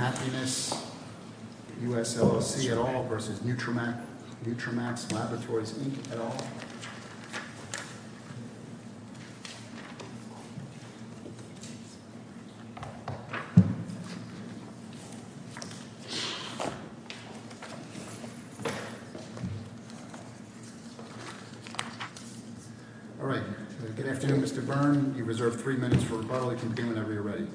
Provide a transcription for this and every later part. All right. Good afternoon, Mr. Byrne. You're reserved three minutes for rebuttally whenever you're ready.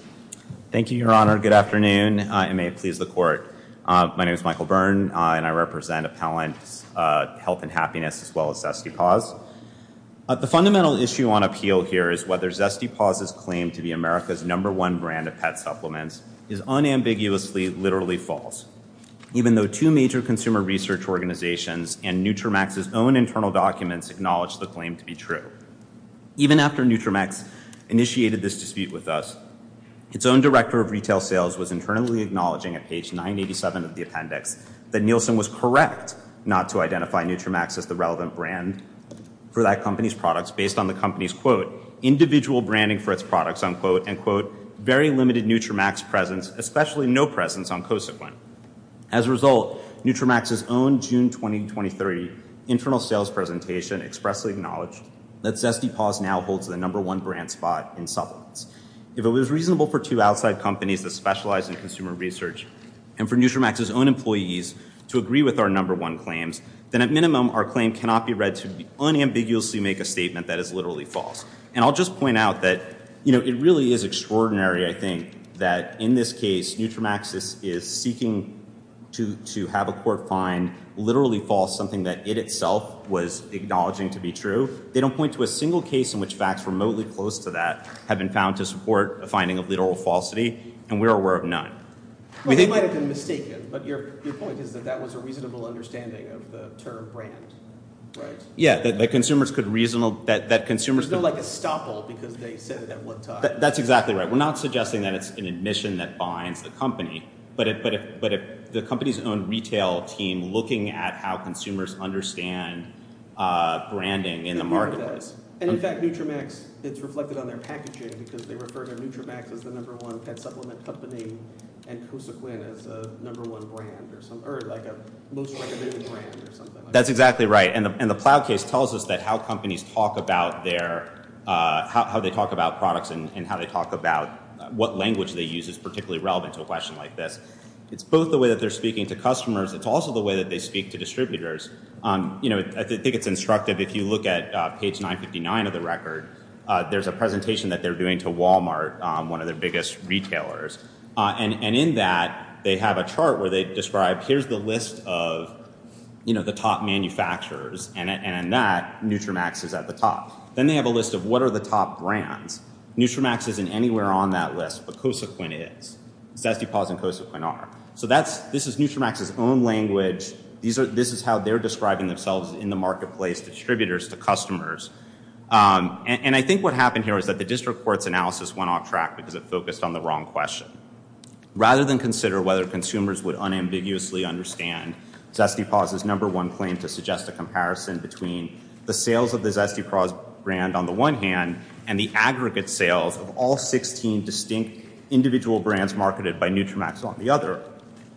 Thank you, Your Honor. Good afternoon. It may please the court. My name is Michael Byrne, and I represent Appellant Health and Happiness, as well as Zesty Paws. The fundamental issue on appeal here is whether Zesty Paws' claim to be America's number one brand of pet supplements is unambiguously, literally false, even though two major consumer research organizations and Nutramax's own internal documents acknowledge the claim to be true. Even after Nutramax initiated this dispute with us, its own director of retail sales was internally acknowledging at page 987 of the appendix that Nielsen was correct not to identify Nutramax as the relevant brand for that company's products based on the company's, quote, individual branding for its products, unquote, and quote, very limited Nutramax presence, especially no presence on Kosequin. As a result, Nutramax's own June 2023 internal sales presentation expressly acknowledged that Zesty Paws now holds the number one brand spot in supplements. If it was reasonable for two outside companies that specialize in consumer research and for Nutramax's own employees to agree with our number one claims, then at minimum, our claim cannot be read to unambiguously make a statement that is And I'll just point out that, you know, it really is extraordinary, I think, that in this case, Nutramax is seeking to have a court find literally false something that it itself was acknowledging to be true. They don't point to a single case in which facts remotely close to that have been found to support a finding of literal falsity, and we're aware of none. Well, they might have been mistaken, but your point is that that was a reasonable understanding of the term brand, right? Yeah, that consumers could reasonable that consumers feel like a stop all because they said that. That's exactly right. We're not suggesting that it's an admission that binds the company. But if but if but if the company's own retail team looking at how consumers understand branding in the market, and in fact, Nutramax, it's reflected on their packaging, because they refer to Nutramax as the number one pet supplement company. And Kosequin is the number one brand or something, or like a most recommended brand or something. That's exactly right. And the plow case tells us that how companies talk about their how they talk about products and how they talk about what language they use is particularly relevant to a question like this. It's both the way that they're speaking to customers. It's also the way that they speak to distributors. You know, I think it's instructive. If you look at page 959 of the record, there's a presentation that they're doing to Walmart, one of their biggest retailers. And in that they have a chart where they describe here's the list of, you know, the top manufacturers and that Nutramax is at the top. Then they have a list of what are the top brands. Nutramax isn't anywhere on that list, but Kosequin is. Zestipas and Kosequin are. So that's this is Nutramax's own language. These are this is how they're describing themselves in the marketplace distributors to customers. And I think what happened here is that the district court's analysis went off track because it focused on the wrong question. Rather than consider whether consumers would unambiguously understand Zestipas' number one claim to suggest a comparison between the sales of the Zestipas brand on the one hand and the aggregate sales of all 16 distinct individual brands marketed by Nutramax on the other,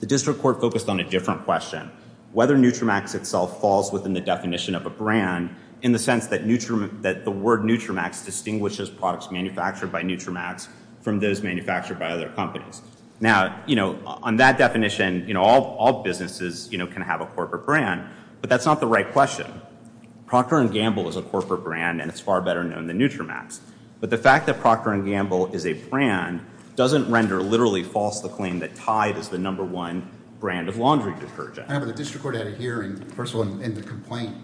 the district court focused on a different question. Whether Nutramax itself falls within the definition of a brand in the sense that the word Nutramax distinguishes products manufactured by Nutramax from those manufactured by other companies. Now, you know, on that definition, you know, all businesses, you know, can have a corporate brand. But that's not the right question. Procter & Gamble is a corporate brand and it's far better known than Nutramax. But the fact that Procter & Gamble is a brand doesn't render literally false the claim that Tide is the number one brand of laundry detergent. I have a district court at a hearing. First of all, in the complaint,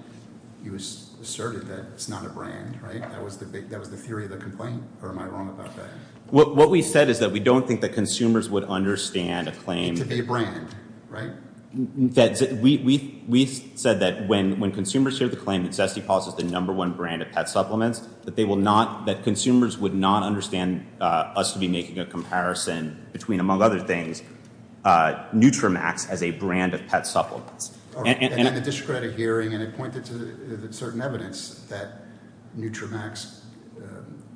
he was asserted that it's not a brand, right? That was the big, that was the theory of the complaint. Or am I wrong about that? What we said is that we don't think that consumers would understand a claim. It's a brand, right? That's it. We said that when consumers hear the claim that Zestipas is the number one brand of pet supplements, that they will not, that consumers would not understand us to be making a comparison between, among other things, Nutramax as a brand of pet supplements. And the district court at a hearing and it pointed to certain evidence that Nutramax,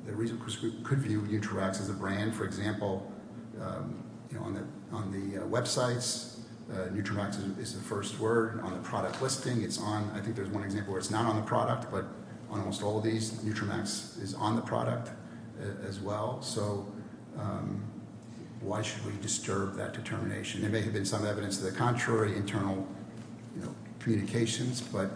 the reason, because we could view Nutramax as a brand, for example, you know, on the websites, Nutramax is the first word on the product listing. It's on, I think there's one example where it's not on the product, but on almost all of these, Nutramax is on the product. As well. So why should we disturb that determination? There may have been some evidence to the contrary, internal communications, but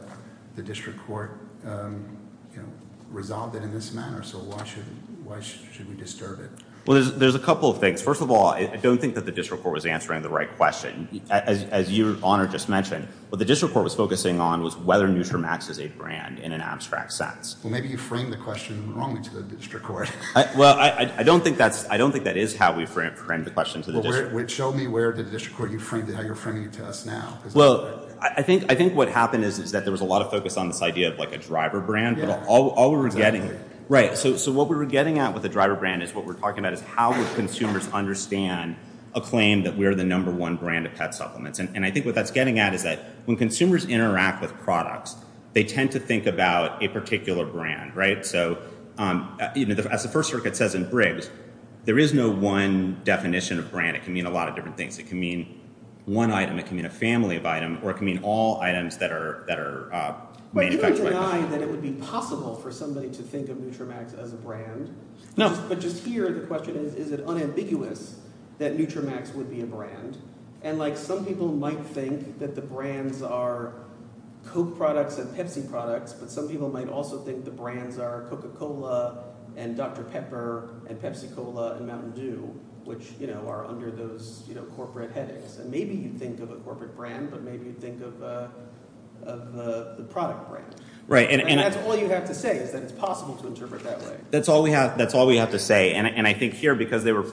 the district court, you know, resolved it in this manner. So why should, why should we disturb it? Well, there's, there's a couple of things. First of all, I don't think that the district court was answering the right question. As your Honor just mentioned, what the district court was focusing on was whether Nutramax is a brand in an abstract sense. Well, maybe you framed the question wrongly to the district court. Well, I don't think that's, I don't think that is how we framed the question to the district court. Well, show me where the district court, how you're framing it to us now. Well, I think, I think what happened is, is that there was a lot of focus on this idea of like a driver brand, but all we were getting, right. So, so what we were getting at with the driver brand is what we're talking about is how would consumers understand a claim that we are the number one brand of pet supplements. And I think what that's getting at is that when consumers interact with products, they tend to think about a particular brand, right. So, you know, as the First Circuit says in Briggs, there is no one definition of brand. It can mean a lot of different things. It can mean one item. It can mean a family of item or it can mean all items that are, that are manufactured by. But you don't deny that it would be possible for somebody to think of Nutramax as a brand. No. But just here, the question is, is it unambiguous that Nutramax would be a brand? And like some people might think that the brands are Coke products and Pepsi products, but some people might also think the brands are Coca-Cola and Dr. Pepper and Pepsi-Cola and Mountain Dew, which, you know, are under those, you know, corporate headaches. And maybe you think of a corporate brand, but maybe you think of the product brand. Right. And that's all you have to say is that it's possible to interpret that way. That's all we have. That's all we have to say. And I think here, because they were,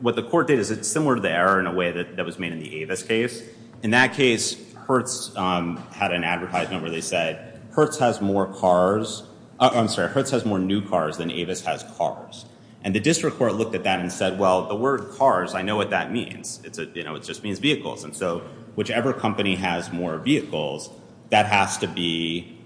what the court did is it's similar to the error in a way that was made in the Avis case. In that case, Hertz had an advertisement where they said, Hertz has more cars, I'm sorry, Hertz has more new cars than Avis has cars. And the district court looked at that and said, well, the word cars, I know what that means. It's a, you know, it just means vehicles. And so whichever company has more vehicles, that has to be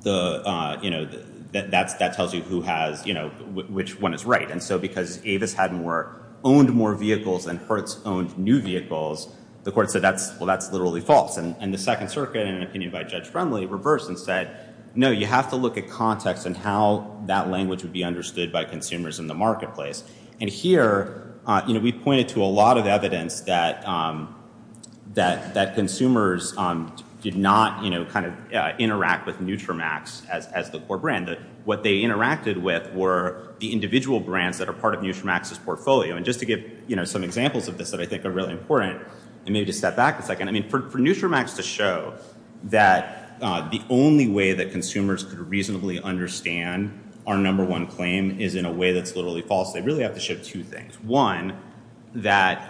the, you know, that tells you who has, you know, which one is right. And so because Avis had more, owned more vehicles than Hertz owned new vehicles, the court said that's, well, that's literally false. And the Second Circuit, in an opinion by Judge Friendly, reversed and said, no, you have to look at context and how that language would be understood by consumers in the marketplace. And here, you know, we pointed to a lot of evidence that consumers did not, you know, kind of interact with Nutramax as the core brand. That what they interacted with were the individual brands that are part of Nutramax's portfolio. And just to give, you know, some examples of this that I think are really important, and maybe just step back a second. I mean, for Nutramax to show that the only way that consumers could reasonably understand our number one claim is in a way that's literally false, they really have to show two things. One, that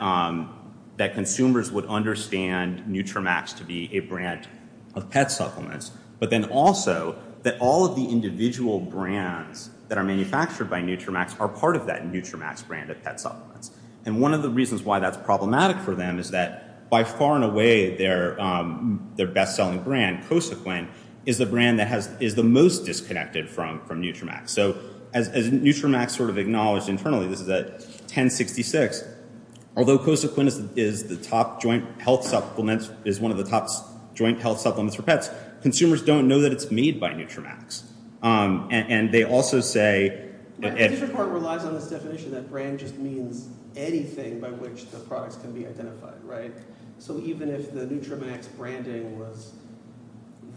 consumers would understand Nutramax to be a brand of pet supplements, but then also that all of the individual brands that are manufactured by Nutramax are part of that Nutramax brand of pet supplements. And one of the reasons why that's problematic for them is that by far and away, their best selling brand, Cosequin, is the brand that has, is the most disconnected from Nutramax. So, as Nutramax sort of acknowledged internally, this is at 1066, although Cosequin is the top joint health supplement, is one of the top joint health supplements for pets, consumers don't know that it's made by Nutramax. And they also say... The different part relies on this definition that brand just means anything by which the products can be identified, right? So, even if the Nutramax branding was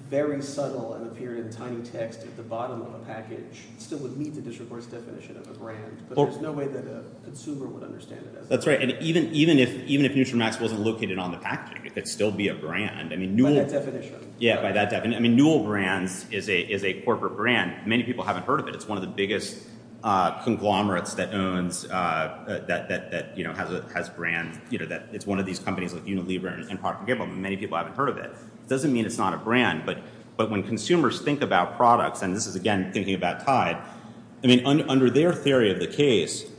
very subtle and appeared in tiny text at the bottom of a package, it still would meet the district court's definition of a brand, but there's no way that a consumer would understand it as a brand. That's right. And even if Nutramax wasn't located on the package, it could still be a brand. By that definition. Yeah, by that definition. I mean, Newell Brands is a corporate brand. Many people haven't heard of it. It's one of the biggest conglomerates that owns, that has brands, it's one of these companies like Unilever and Procter & Gamble, many people haven't heard of it. It doesn't mean it's not a brand, but when consumers think about products, and this is, again, thinking about Tide, I mean, under their theory of the case,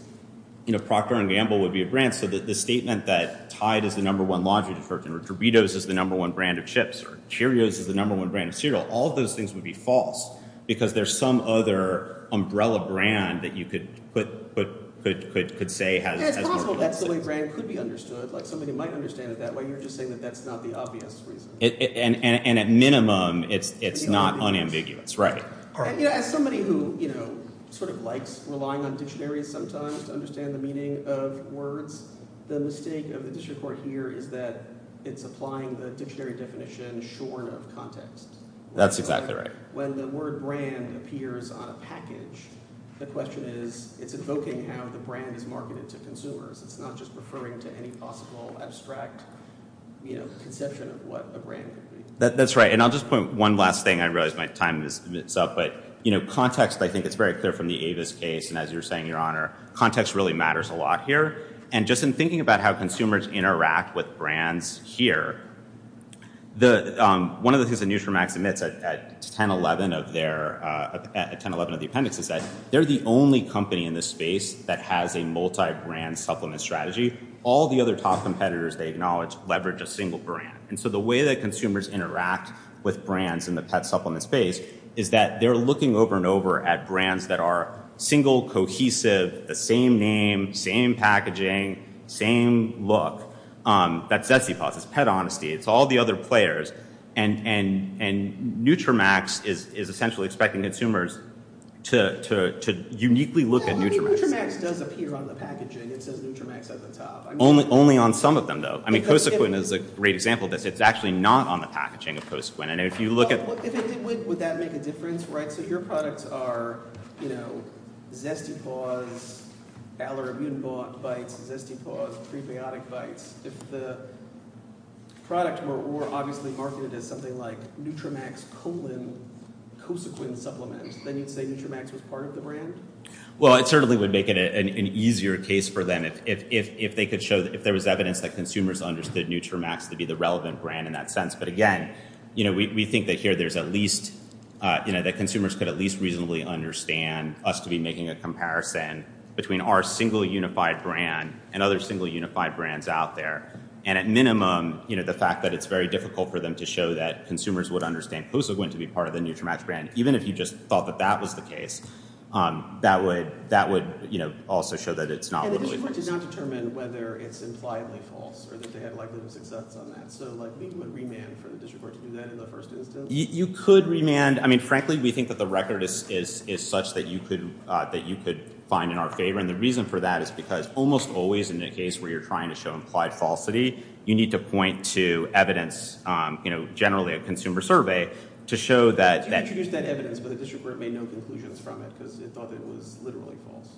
Procter & Gamble would be a brand. So, the statement that Tide is the number one laundry detergent, or Doritos is the number one brand of chips, or Cheerios is the number one brand of cereal, all of those things would be false, because there's some other umbrella brand that you could put, could say has... Yeah, it's possible that's the way brand could be understood. Like, somebody might understand it that way. You're just saying that that's not the obvious reason. And at minimum, it's not unambiguous, right. As somebody who, you know, sort of likes relying on dictionaries sometimes to understand the meaning of words, the mistake of the district court here is that it's applying the dictionary definition shorn of context. That's exactly right. When the word brand appears on a package, the question is, it's invoking how the brand is marketed to consumers. It's not just referring to any possible abstract, you know, conception of what a brand could be. That's right. And I'll just point one last thing. I realize my time is up. But, you know, context, I think it's very clear from the Avis case. And as you're saying, Your Honor, context really matters a lot here. And just in thinking about how consumers interact with brands here, one of the things that Nutramax admits at 1011 of the appendix is that they're the only company in this space that has a multi-brand supplement strategy. All the other top competitors, they acknowledge, leverage a single brand. And so the way that consumers interact with brands in the pet supplement space is that they're looking over and over at brands that are single, cohesive, the same name, same packaging, same look. That's Zetsipas. It's Pet Honesty. It's all the other players. And Nutramax is essentially expecting consumers to uniquely look at Nutramax. Nutramax does appear on the packaging. It says Nutramax at the top. Only on some of them, though. I mean, Cosequin is a great example of this. It's actually not on the packaging of Cosequin. And if you look at- If it did, would that make a difference? Right? So your products are, you know, Zetsipas, Valor Immune Bites, Zetsipas Prebiotic Bites. If the product were obviously marketed as something like Nutramax colon Cosequin supplement, then you'd say Nutramax was part of the brand? Well, it certainly would make it an easier case for them. If they could show- If there was evidence that consumers understood Nutramax to be the relevant brand in that sense. But again, you know, we think that here there's at least, you know, that consumers could at least reasonably understand us to be making a comparison between our single unified brand and other single unified brands out there. And at minimum, you know, the fact that it's very difficult for them to show that consumers would understand Cosequin to be part of the Nutramax brand, even if you just thought that that was the case, that would, you know, also show that it's not. And the district court did not determine whether it's impliedly false or that they had a likelihood of success on that. So like we would remand for the district court to do that in the first instance? You could remand. I mean, frankly, we think that the record is such that you could find in our favor. And the reason for that is because almost always in a case where you're trying to show implied falsity, you need to point to evidence, you know, generally a consumer survey to show that- You introduced that evidence, but the district court made no conclusions from it because it thought it was literally false.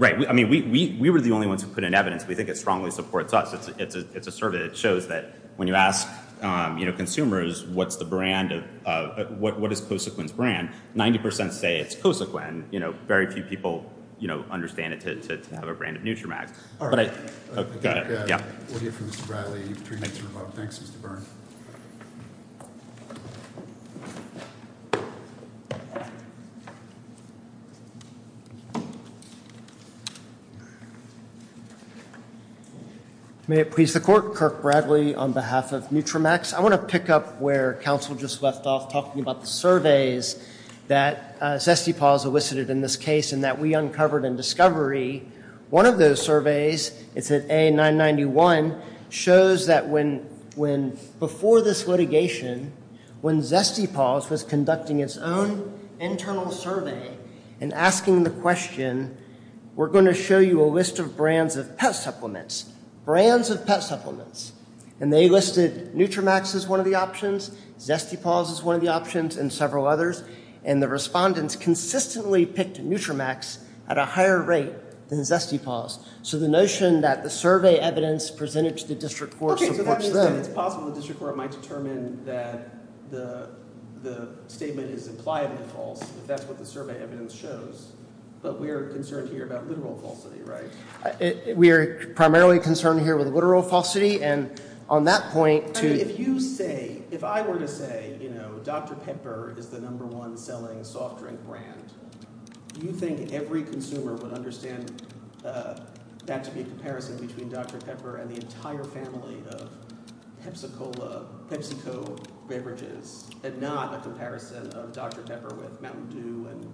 Right. I mean, we were the only ones who put in evidence. We think it strongly supports us. It's a survey that shows that when you ask, you know, consumers, what's the brand of- what is Cosequin's brand, 90% say it's Cosequin, you know, very few people, you know, understand it to have a brand of Nutramax. All right. We'll hear from Mr. Bradley. You've three minutes to revoke. Thanks, Mr. Byrne. May it please the court. Kirk Bradley on behalf of Nutramax. I want to pick up where counsel just left off talking about the surveys that Zestipause elicited in this case and that we uncovered in discovery. One of those surveys, it's at A991, shows that when- when we asked the question, we're going to show you a list of brands of pet supplements, brands of pet supplements, and they listed Nutramax as one of the options, Zestipause is one of the options, and several others, and the respondents consistently picked Nutramax at a higher rate than Zestipause. So the notion that the survey evidence presented to the district court supports them- Okay, so that means that it's possible the district court might determine that the statement is impliably false if that's what the survey evidence shows, but we are concerned here about literal falsity, right? We are primarily concerned here with literal falsity, and on that point- I mean, if you say- if I were to say, you know, Dr. Pepper is the number one selling soft drink brand, do you think every consumer would understand that to be a comparison between Dr. Pepper and the entire family of Pepsi-Cola- PepsiCo beverages, and not a comparison of Dr. Pepper with Mountain Dew and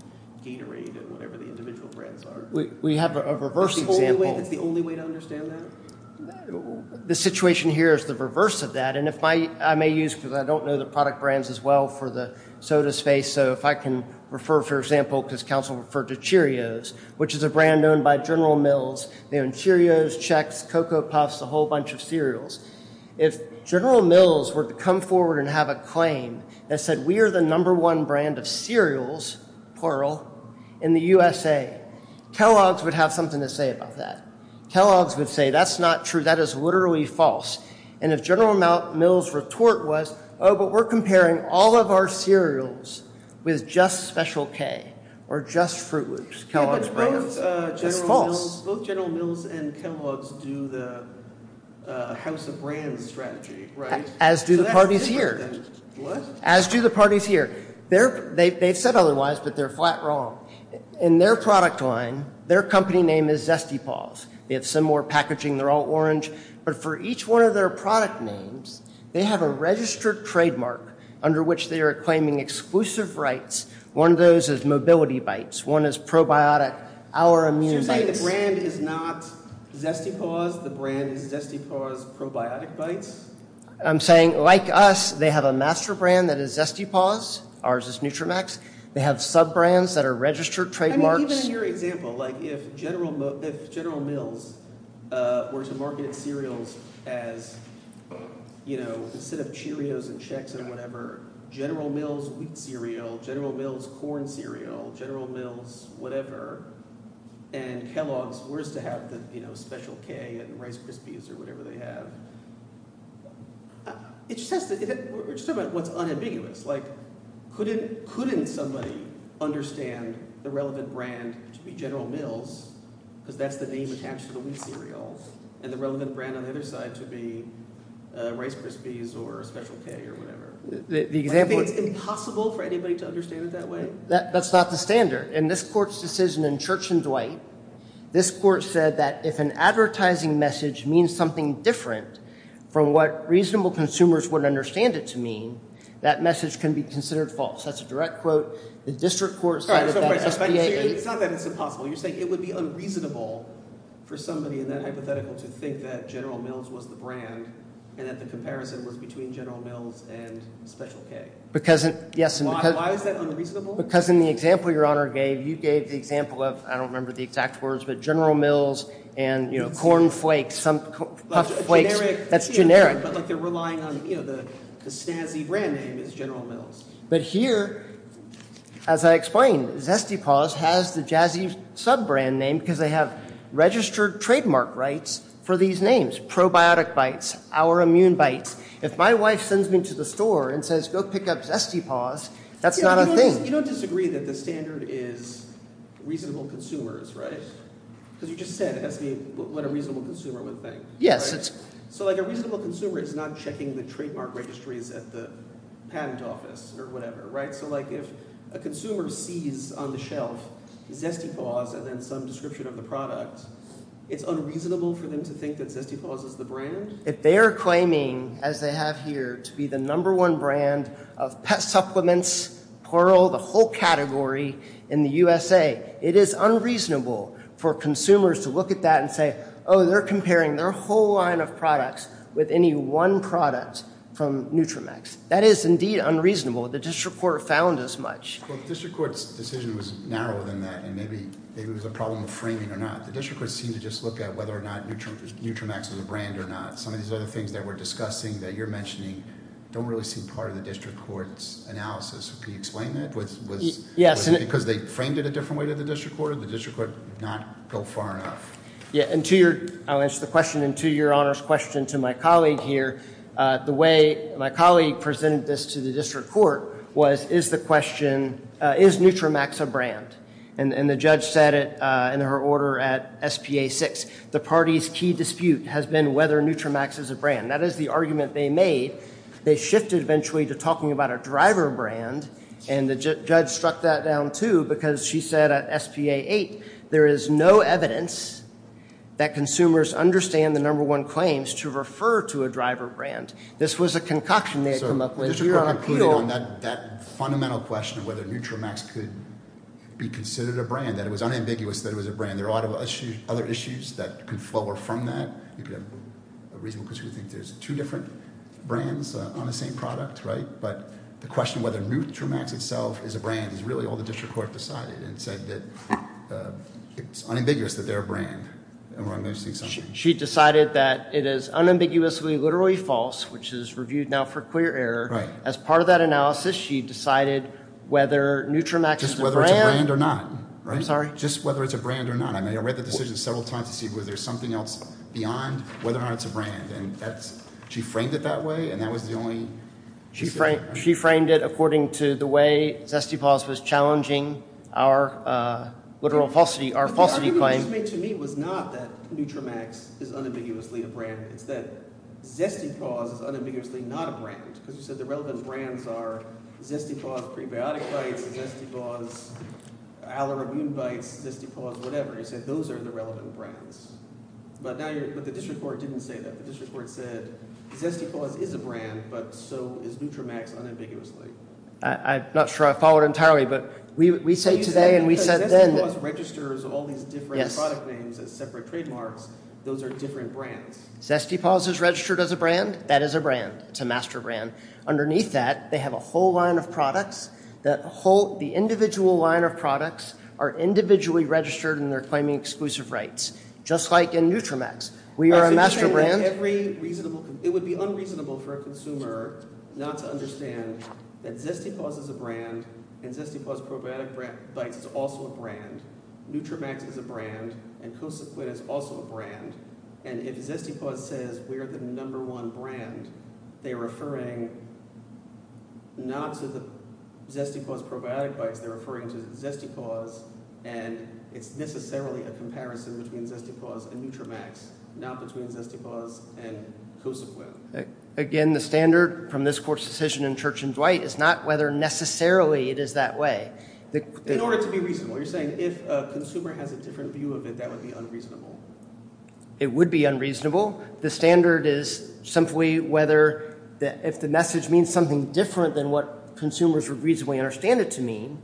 Gatorade and whatever the individual brands are? We have a reverse example- That's the only way to understand that? The situation here is the reverse of that, and if my- I may use, because I don't know the product brands as well for the soda space, so if I can refer, for example, because counsel referred to Cheerios, which is a brand owned by General Mills, they own Chex, Cocoa Puffs, a whole bunch of cereals. If General Mills were to come forward and have a claim that said we are the number one brand of cereals, plural, in the USA, Kellogg's would have something to say about that. Kellogg's would say that's not true, that is literally false, and if General Mills' retort was, oh, but we're comparing all of our cereals with just Special K or just Fruit Loops, Kellogg's is false. Both General Mills and Kellogg's do the House of Brands strategy, right? As do the parties here. What? As do the parties here. They've said otherwise, but they're flat wrong. In their product line, their company name is Zesty Paws. They have similar packaging, they're all orange, but for each one of their product names, they have a registered trademark under which they are claiming exclusive rights. One of those is Mobility Bites, one is Probiotic, our Immune Bites. So you're saying the brand is not Zesty Paws, the brand is Zesty Paws Probiotic Bites? I'm saying, like us, they have a master brand that is Zesty Paws, ours is Nutramax, they have sub-brands that are registered trademarks. I mean, even in your example, like if General Mills were to market cereals as, you know, instead of Cheerios and Chex and whatever, General Mills wheat cereal, General Mills corn cereal, General Mills whatever, and Kellogg's were to have the, you know, Special K and Rice Krispies or whatever they have. We're just talking about what's unambiguous, like couldn't somebody understand the relevant brand to be General Mills, because that's the name attached to the wheat cereal, and the relevant brand on the other side to be Rice Krispies or Special K or whatever? The example is impossible for anybody to understand it that way? That's not the standard. In this court's decision in Church and Dwight, this court said that if an advertising message means something different from what reasonable consumers would understand it to mean, that message can be considered false. That's a direct quote. The district court decided that. It's not that it's impossible. You're saying it would be unreasonable for somebody in that hypothetical to think that General Mills was the brand and that the comparison was between General Mills and Special K. Why is that unreasonable? Because in the example your Honor gave, you gave the example of, I don't remember the exact words, but General Mills and, you know, Corn Flakes, Puff Flakes, that's generic. But like they're relying on, you know, the snazzy brand name is General Mills. But here, as I explained, Zesty Paws has the jazzy sub-brand name because they have registered trademark rights for these names. Probiotic Bites, Our Immune Bites. If my wife sends me to the store and says, go pick up Zesty Paws, that's not a thing. You don't disagree that the standard is reasonable consumers, right? Because you just said it has to be reasonable. A consumer is not checking the trademark registries at the patent office or whatever, right? So like if a consumer sees on the shelf Zesty Paws and then some description of the product, it's unreasonable for them to think that Zesty Paws is the brand? If they are claiming, as they have here, to be the number one brand of pet supplements, plural, the whole category in the USA, it is unreasonable for consumers to look at that and say, oh, they're comparing their whole line of products with any one product from Nutramax. That is indeed unreasonable. The district court found as much. The district court's decision was narrower than that and maybe it was a problem of framing or not. The district court seemed to just look at whether or not Nutramax was a brand or not. Some of these other things that we're discussing that you're mentioning don't really seem part of the district court's analysis. Can you explain that? Was it because they framed it a different way to the district court? The district court did not go far enough. Yeah, and to your, I'll answer the question and to your honor's question to my colleague here, the way my colleague presented this to the district court was, is the question, is Nutramax a brand? And the judge said it in her order at SPA 6, the party's key dispute has been whether Nutramax is a brand. That is the argument they made. They shifted eventually to talking about a driver brand and the judge struck that down too because she said at SPA 8, there is no evidence that consumers understand the number one claims to refer to a driver brand. This was a concoction they had come up with. So the district court concluded on that fundamental question of whether Nutramax could be considered a brand, that it was unambiguous that it was a brand. There are a lot of other issues that could flower from that. You could have a reasonable question to think there's two different brands on the same product, right? But the question whether Nutramax itself is a brand is really all the district court decided and said that it's unambiguous that they're a brand. She decided that it is unambiguously, literally false, which is reviewed now for clear error. As part of that analysis, she decided whether Nutramax is a brand or not, right? I'm sorry. Just whether it's a brand or not. I mean, I read the decision several times to see whether there's something else beyond whether or not it's a brand. And that's, she framed it that way. And that was the only... She framed it according to the way Zesty Paws was challenging our literal falsity, our falsity claim. The argument you made to me was not that Nutramax is unambiguously a brand. It's that Zesty Paws is unambiguously not a brand. Because you said the relevant brands are Zesty Paws prebiotic bites, Zesty Paws allergen bites, Zesty Paws whatever. You said those are the relevant brands. But the district court didn't say that. The district court said Zesty Paws is a brand, but so is Nutramax unambiguously. I'm not sure I followed entirely. But we say today and we said then... Zesty Paws registers all these different product names as separate trademarks. Those are different brands. Zesty Paws is registered as a brand. That is a brand. It's a master brand. Underneath that, they have a whole line of products. The whole, the individual line of products are individually registered and they're claiming exclusive rights. Just like in Nutramax. We are a master brand. It would be unreasonable for a consumer not to understand that Zesty Paws is a brand and Zesty Paws probiotic bites is also a brand. Nutramax is a brand and Cosa Quit is also a brand. And if Zesty Paws says we're the number one brand, they're referring not to the Zesty Paws probiotic bites, they're referring to Zesty Paws and it's necessarily a comparison between Zesty Paws and Nutramax. Not between Zesty Paws and Cosa Quit. Again, the standard from this court's decision in Church and Dwight is not whether necessarily it is that way. In order to be reasonable. You're saying if a consumer has a different view of it, that would be unreasonable. It would be unreasonable. The standard is simply whether if the message means something different than what consumers would reasonably understand it to mean,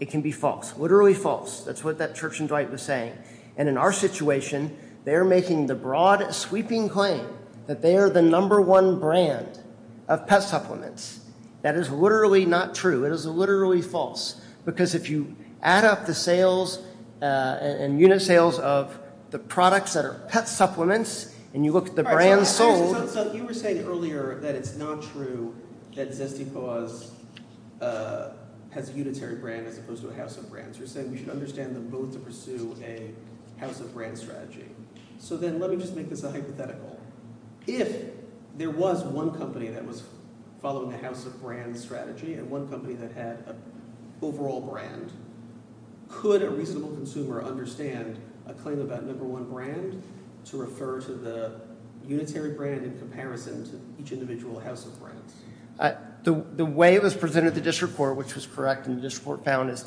it can be false. Literally false. That's what that Church and Dwight was saying. And in our situation, they're making the broad, sweeping claim that they are the number one brand of pet supplements. That is literally not true. It is literally false. Because if you add up the sales and unit sales of the products that are pet supplements and you look at the brands sold... So you were saying earlier that it's not true that Zesty Paws has a unitary brand as opposed to a house of brands. You're saying we should understand them both to pursue a house of brands strategy. So then let me just make this a hypothetical. If there was one company that was following the house of brands strategy and one company that had an overall brand, could a reasonable consumer understand a claim about number one brand to refer to the unitary brand in comparison to each individual house of brands? The way it was presented at the district court, which was correct, is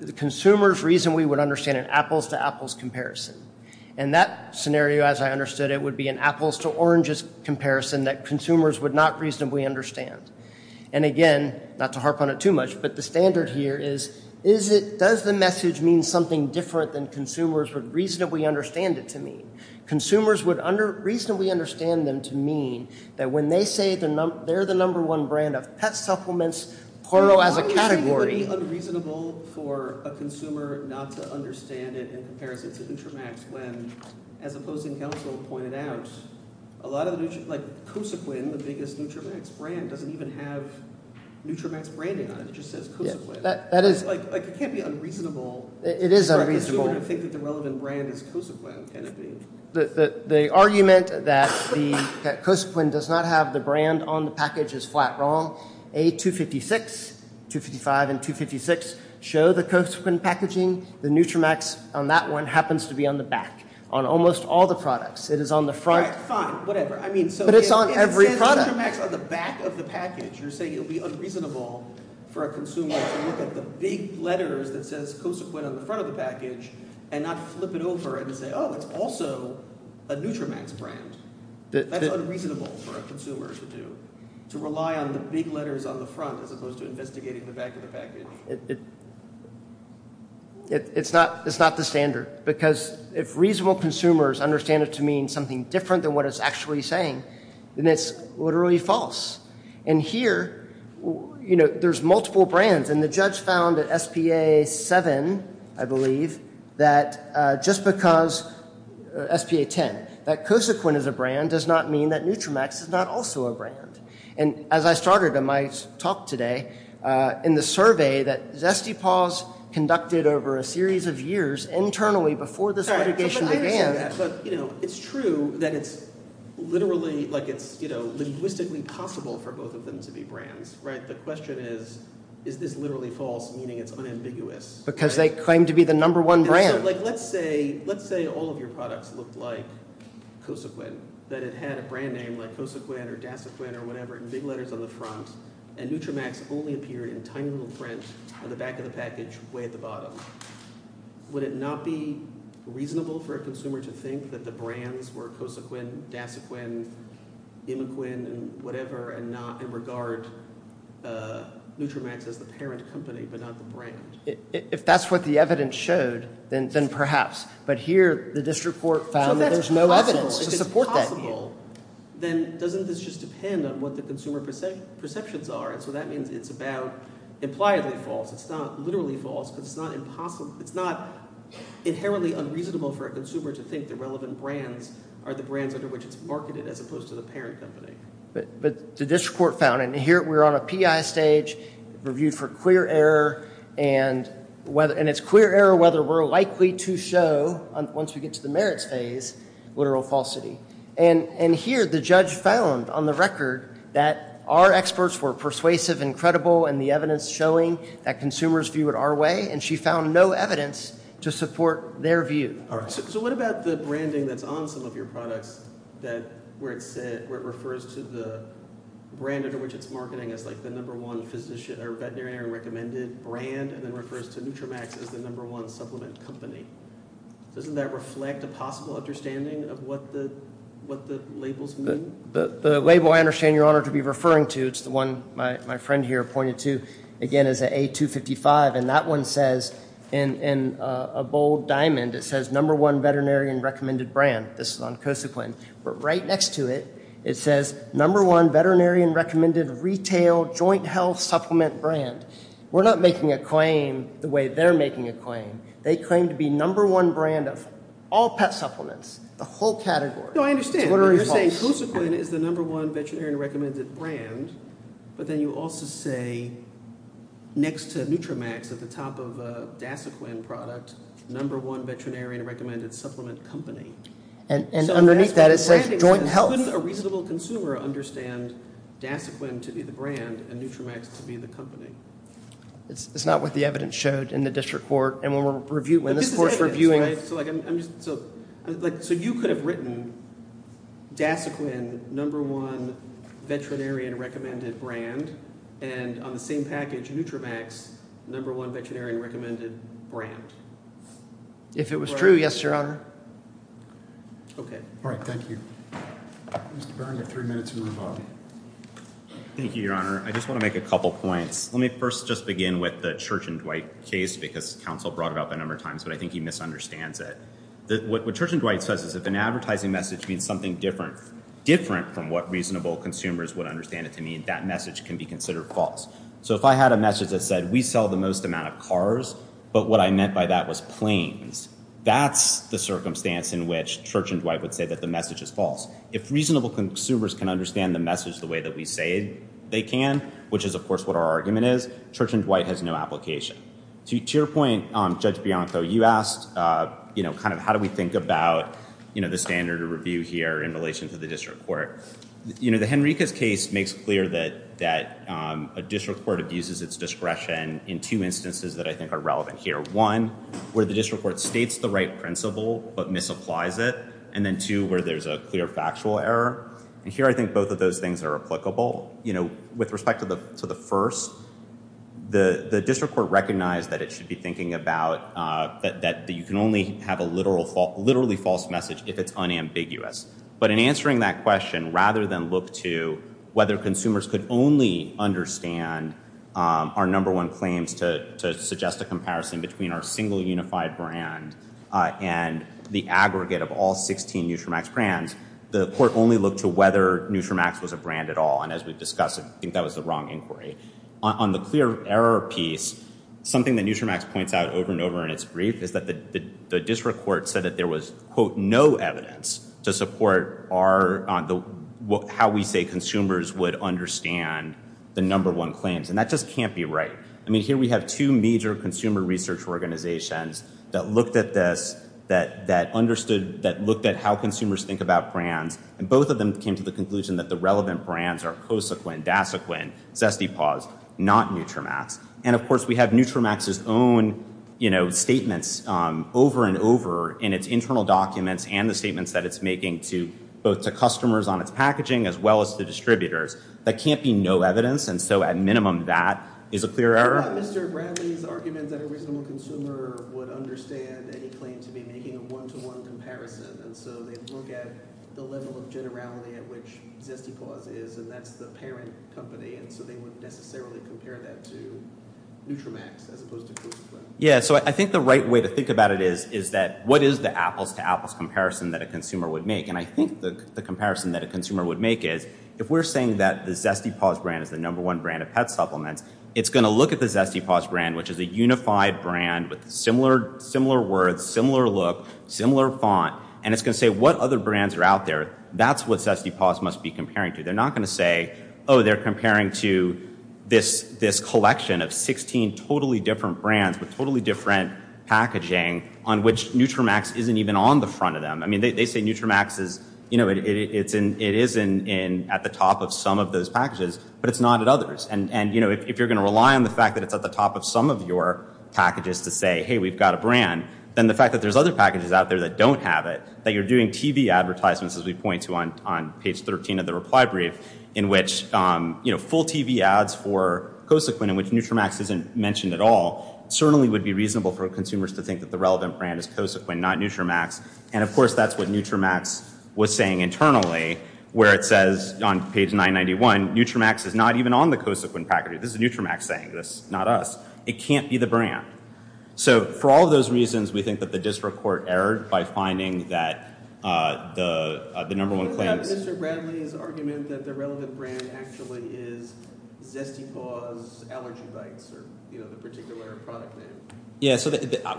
the consumer's reason we would understand an apples-to-apples comparison. And that scenario, as I understood it, would be an apples-to-oranges comparison that consumers would not reasonably understand. And again, not to harp on it too much, but the standard here is, does the message mean something different than consumers would reasonably understand it to mean? Consumers would reasonably understand them to mean that when they say they're the number one brand they have pet supplements, porno as a category. Why would you think it would be unreasonable for a consumer not to understand it in comparison to Nutramax when, as opposing counsel pointed out, a lot of the Nutramax, like Cosaquin, the biggest Nutramax brand, doesn't even have Nutramax branding on it. It just says Cosaquin. That is... Like, it can't be unreasonable. It is unreasonable. To think that the relevant brand is Cosaquin, can it be? The argument that Cosaquin does not have the brand on the package is flat wrong. A256, 255, and 256 show the Cosaquin packaging. The Nutramax on that one happens to be on the back. On almost all the products, it is on the front. All right, fine, whatever. I mean, so... But it's on every product. It says Nutramax on the back of the package. You're saying it would be unreasonable for a consumer to look at the big letters that says Cosaquin on the front of the package and not flip it over and say, oh, it's also a Nutramax brand. That's unreasonable for a consumer to do. The big letters on the front as opposed to investigating the back of the package. It's not the standard. Because if reasonable consumers understand it to mean something different than what it's actually saying, then it's literally false. And here, you know, there's multiple brands. And the judge found at SPA 7, I believe, that just because... SPA 10. That Cosaquin is a brand does not mean that Nutramax is not also a brand. And as I started in my talk today, in the survey that Zesty Paws conducted over a series of years internally before this litigation began... All right, but I understand that. But, you know, it's true that it's literally, like, it's, you know, linguistically possible for both of them to be brands, right? The question is, is this literally false, meaning it's unambiguous? Because they claim to be the number one brand. So, like, let's say all of your products look like Cosaquin. That it had a brand name like Cosaquin or Dasaquin or whatever in big letters on the front. And Nutramax only appeared in tiny little print on the back of the package way at the bottom. Would it not be reasonable for a consumer to think that the brands were Cosaquin, Dasaquin, Imiquin, and whatever, and not... And regard Nutramax as the parent company, but not the brand? If that's what the evidence showed, then perhaps. But here, the district court found that there's no evidence. If it's possible, then doesn't this just depend on what the consumer perceptions are? And so that means it's about impliedly false. It's not literally false, because it's not impossible. It's not inherently unreasonable for a consumer to think the relevant brands are the brands under which it's marketed, as opposed to the parent company. But the district court found, and here we're on a PI stage, reviewed for clear error. And it's clear error whether we're likely to show, once we get to the merits phase, literal falsity. And here, the judge found, on the record, that our experts were persuasive and credible, and the evidence showing that consumers view it our way. And she found no evidence to support their view. All right. So what about the branding that's on some of your products, where it refers to the brand under which it's marketing as the number one veterinary recommended brand, and then refers to Nutramax as the number one supplement company? Doesn't that reflect a possible understanding of what the labels mean? The label I understand, Your Honor, to be referring to, it's the one my friend here pointed to, again, is an A255. And that one says, in a bold diamond, it says, number one veterinary and recommended brand. This is on Cosequin. But right next to it, it says, number one veterinary and recommended retail joint health supplement brand. We're not making a claim the way they're making a claim. They claim to be number one brand of all pet supplements. The whole category. No, I understand. You're saying Cosequin is the number one veterinary and recommended brand. But then you also say, next to Nutramax, at the top of a Dasaquan product, number one veterinary and recommended supplement company. And underneath that, it says joint health. Couldn't a reasonable consumer understand Dasaquan to be the brand, and Nutramax to be the company? It's not what the evidence showed in the district court. And when we're reviewing, when this court's reviewing. So you could have written, Dasaquan, number one veterinary and recommended brand. And on the same package, Nutramax, number one veterinary and recommended brand. If it was true, yes, Your Honor. OK. All right. Thank you. Mr. Barron, you have three minutes to move on. Thank you, Your Honor. I just want to make a couple points. Let me first just begin with the Church and Dwight case, because counsel brought it up a number of times. But I think he misunderstands it. What Church and Dwight says is, if an advertising message means something different from what reasonable consumers would understand it to mean, that message can be considered false. So if I had a message that said, we sell the most amount of cars, but what I meant by that was planes, that's the circumstance in which Church and Dwight would say that the message is false. If reasonable consumers can understand the message the way that we say they can, which is, of course, what our argument is, Church and Dwight has no application. To your point, Judge Bianco, you asked, how do we think about the standard of review here in relation to the district court? The Henriquez case makes clear that a district court abuses its discretion in two instances that I think are relevant here. One, where the district court states the right principle but misapplies it. And then two, where there's a clear factual error. And here, I think both of those things are applicable. With respect to the first, the district court recognized that it should be thinking about that you can only have a literally false message if it's unambiguous. But in answering that question, rather than look to whether consumers could only understand our number one claims to suggest a comparison between our single unified brand and the aggregate of all 16 Nutramax brands, the court only looked to whether Nutramax was a brand at all. And as we've discussed, I think that was the wrong inquiry. On the clear error piece, something that Nutramax points out over and over in its brief is that the district court said that there was, quote, no evidence to support our, how we say consumers would understand the number one claims. And that just can't be right. I mean, here we have two major consumer research organizations that looked at this, that understood, that looked at how consumers think about brands. And both of them came to the conclusion that the relevant brands are Cosequin, Dasequin, Zest-E-Pause, not Nutramax. And of course, we have Nutramax's own, you know, statements over and over in its internal documents and the statements that it's making to, both to customers on its packaging, as well as the distributors. That can't be no evidence. And so at minimum, that is a clear error. I thought Mr. Bradley's argument that a reasonable consumer would understand any claim to be making a one-to-one comparison. And so they look at the level of generality at which Zest-E-Pause is, and that's the parent company. And so they wouldn't necessarily compare that to Nutramax, as opposed to Cosequin. Yeah, so I think the right way to think about it is, is that what is the apples to apples comparison that a consumer would make? And I think the comparison that a consumer would make is, if we're saying that the Zest-E-Pause brand is the number one brand of pet supplements, it's going to look at the Zest-E-Pause brand, which is a unified brand with similar words, similar look, similar font, and it's going to say what other brands are out there. That's what Zest-E-Pause must be comparing to. They're not going to say, oh, they're comparing to this collection of 16 totally different brands with totally different packaging on which Nutramax isn't even on the front of them. I mean, they say Nutramax is, you know, it is at the top of some of those packages, but it's not at others. And, you know, if you're going to rely on the fact that it's at the top of some of your packages to say, hey, we've got a brand, then the fact that there's other packages out there that don't have it, that you're doing TV advertisements, as we point to on page 13 of the reply brief, in which, you know, full TV ads for Cosequin in which Nutramax isn't mentioned at all, certainly would be reasonable for consumers to think that the relevant brand is Cosequin, not Nutramax. And, of course, that's what Nutramax was saying internally, where it says on page 991, Nutramax is not even on the Cosequin package. This is Nutramax saying this, not us. It can't be the brand. So, for all of those reasons, we think that the district court erred by finding that the number one claim... We didn't have Mr. Bradley's argument that the relevant brand actually is Zesty Paws, Allergy Bites, or, you know, the particular product name. Yeah, so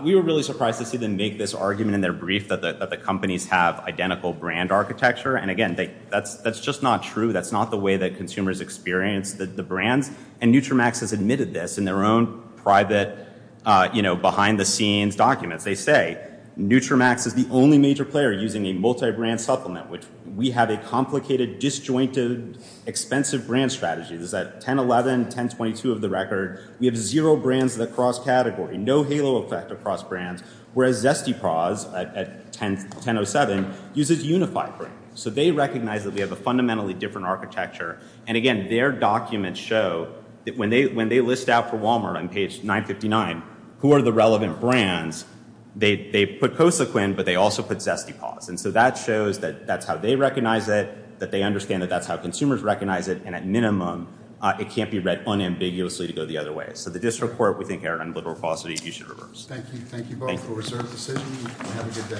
we were really surprised to see them make this argument in their brief that the companies have identical brand architecture. And, again, that's just not true. That's not the way that consumers experience the brands. And Nutramax has admitted this in their own private, you know, behind-the-scenes documents. They say Nutramax is the only major player using a multi-brand supplement, which we have a complicated, disjointed, expensive brand strategy. This is at 10.11, 10.22 of the record. We have zero brands that cross category, no halo effect across brands, whereas Zesty Paws at 10.07 uses unified brand. So they recognize that we have a fundamentally different architecture. And, again, their documents show that when they list out for Walmart on page 959, who are the relevant brands, they put Cosequin, but they also put Zesty Paws. And so that shows that that's how they recognize it, that they understand that that's how consumers recognize it. And, at minimum, it can't be read unambiguously to go the other way. So the district court, we think, Eric, on liberal falsity, you should reverse. Thank you. Thank you both for a reserved decision. Have a good day.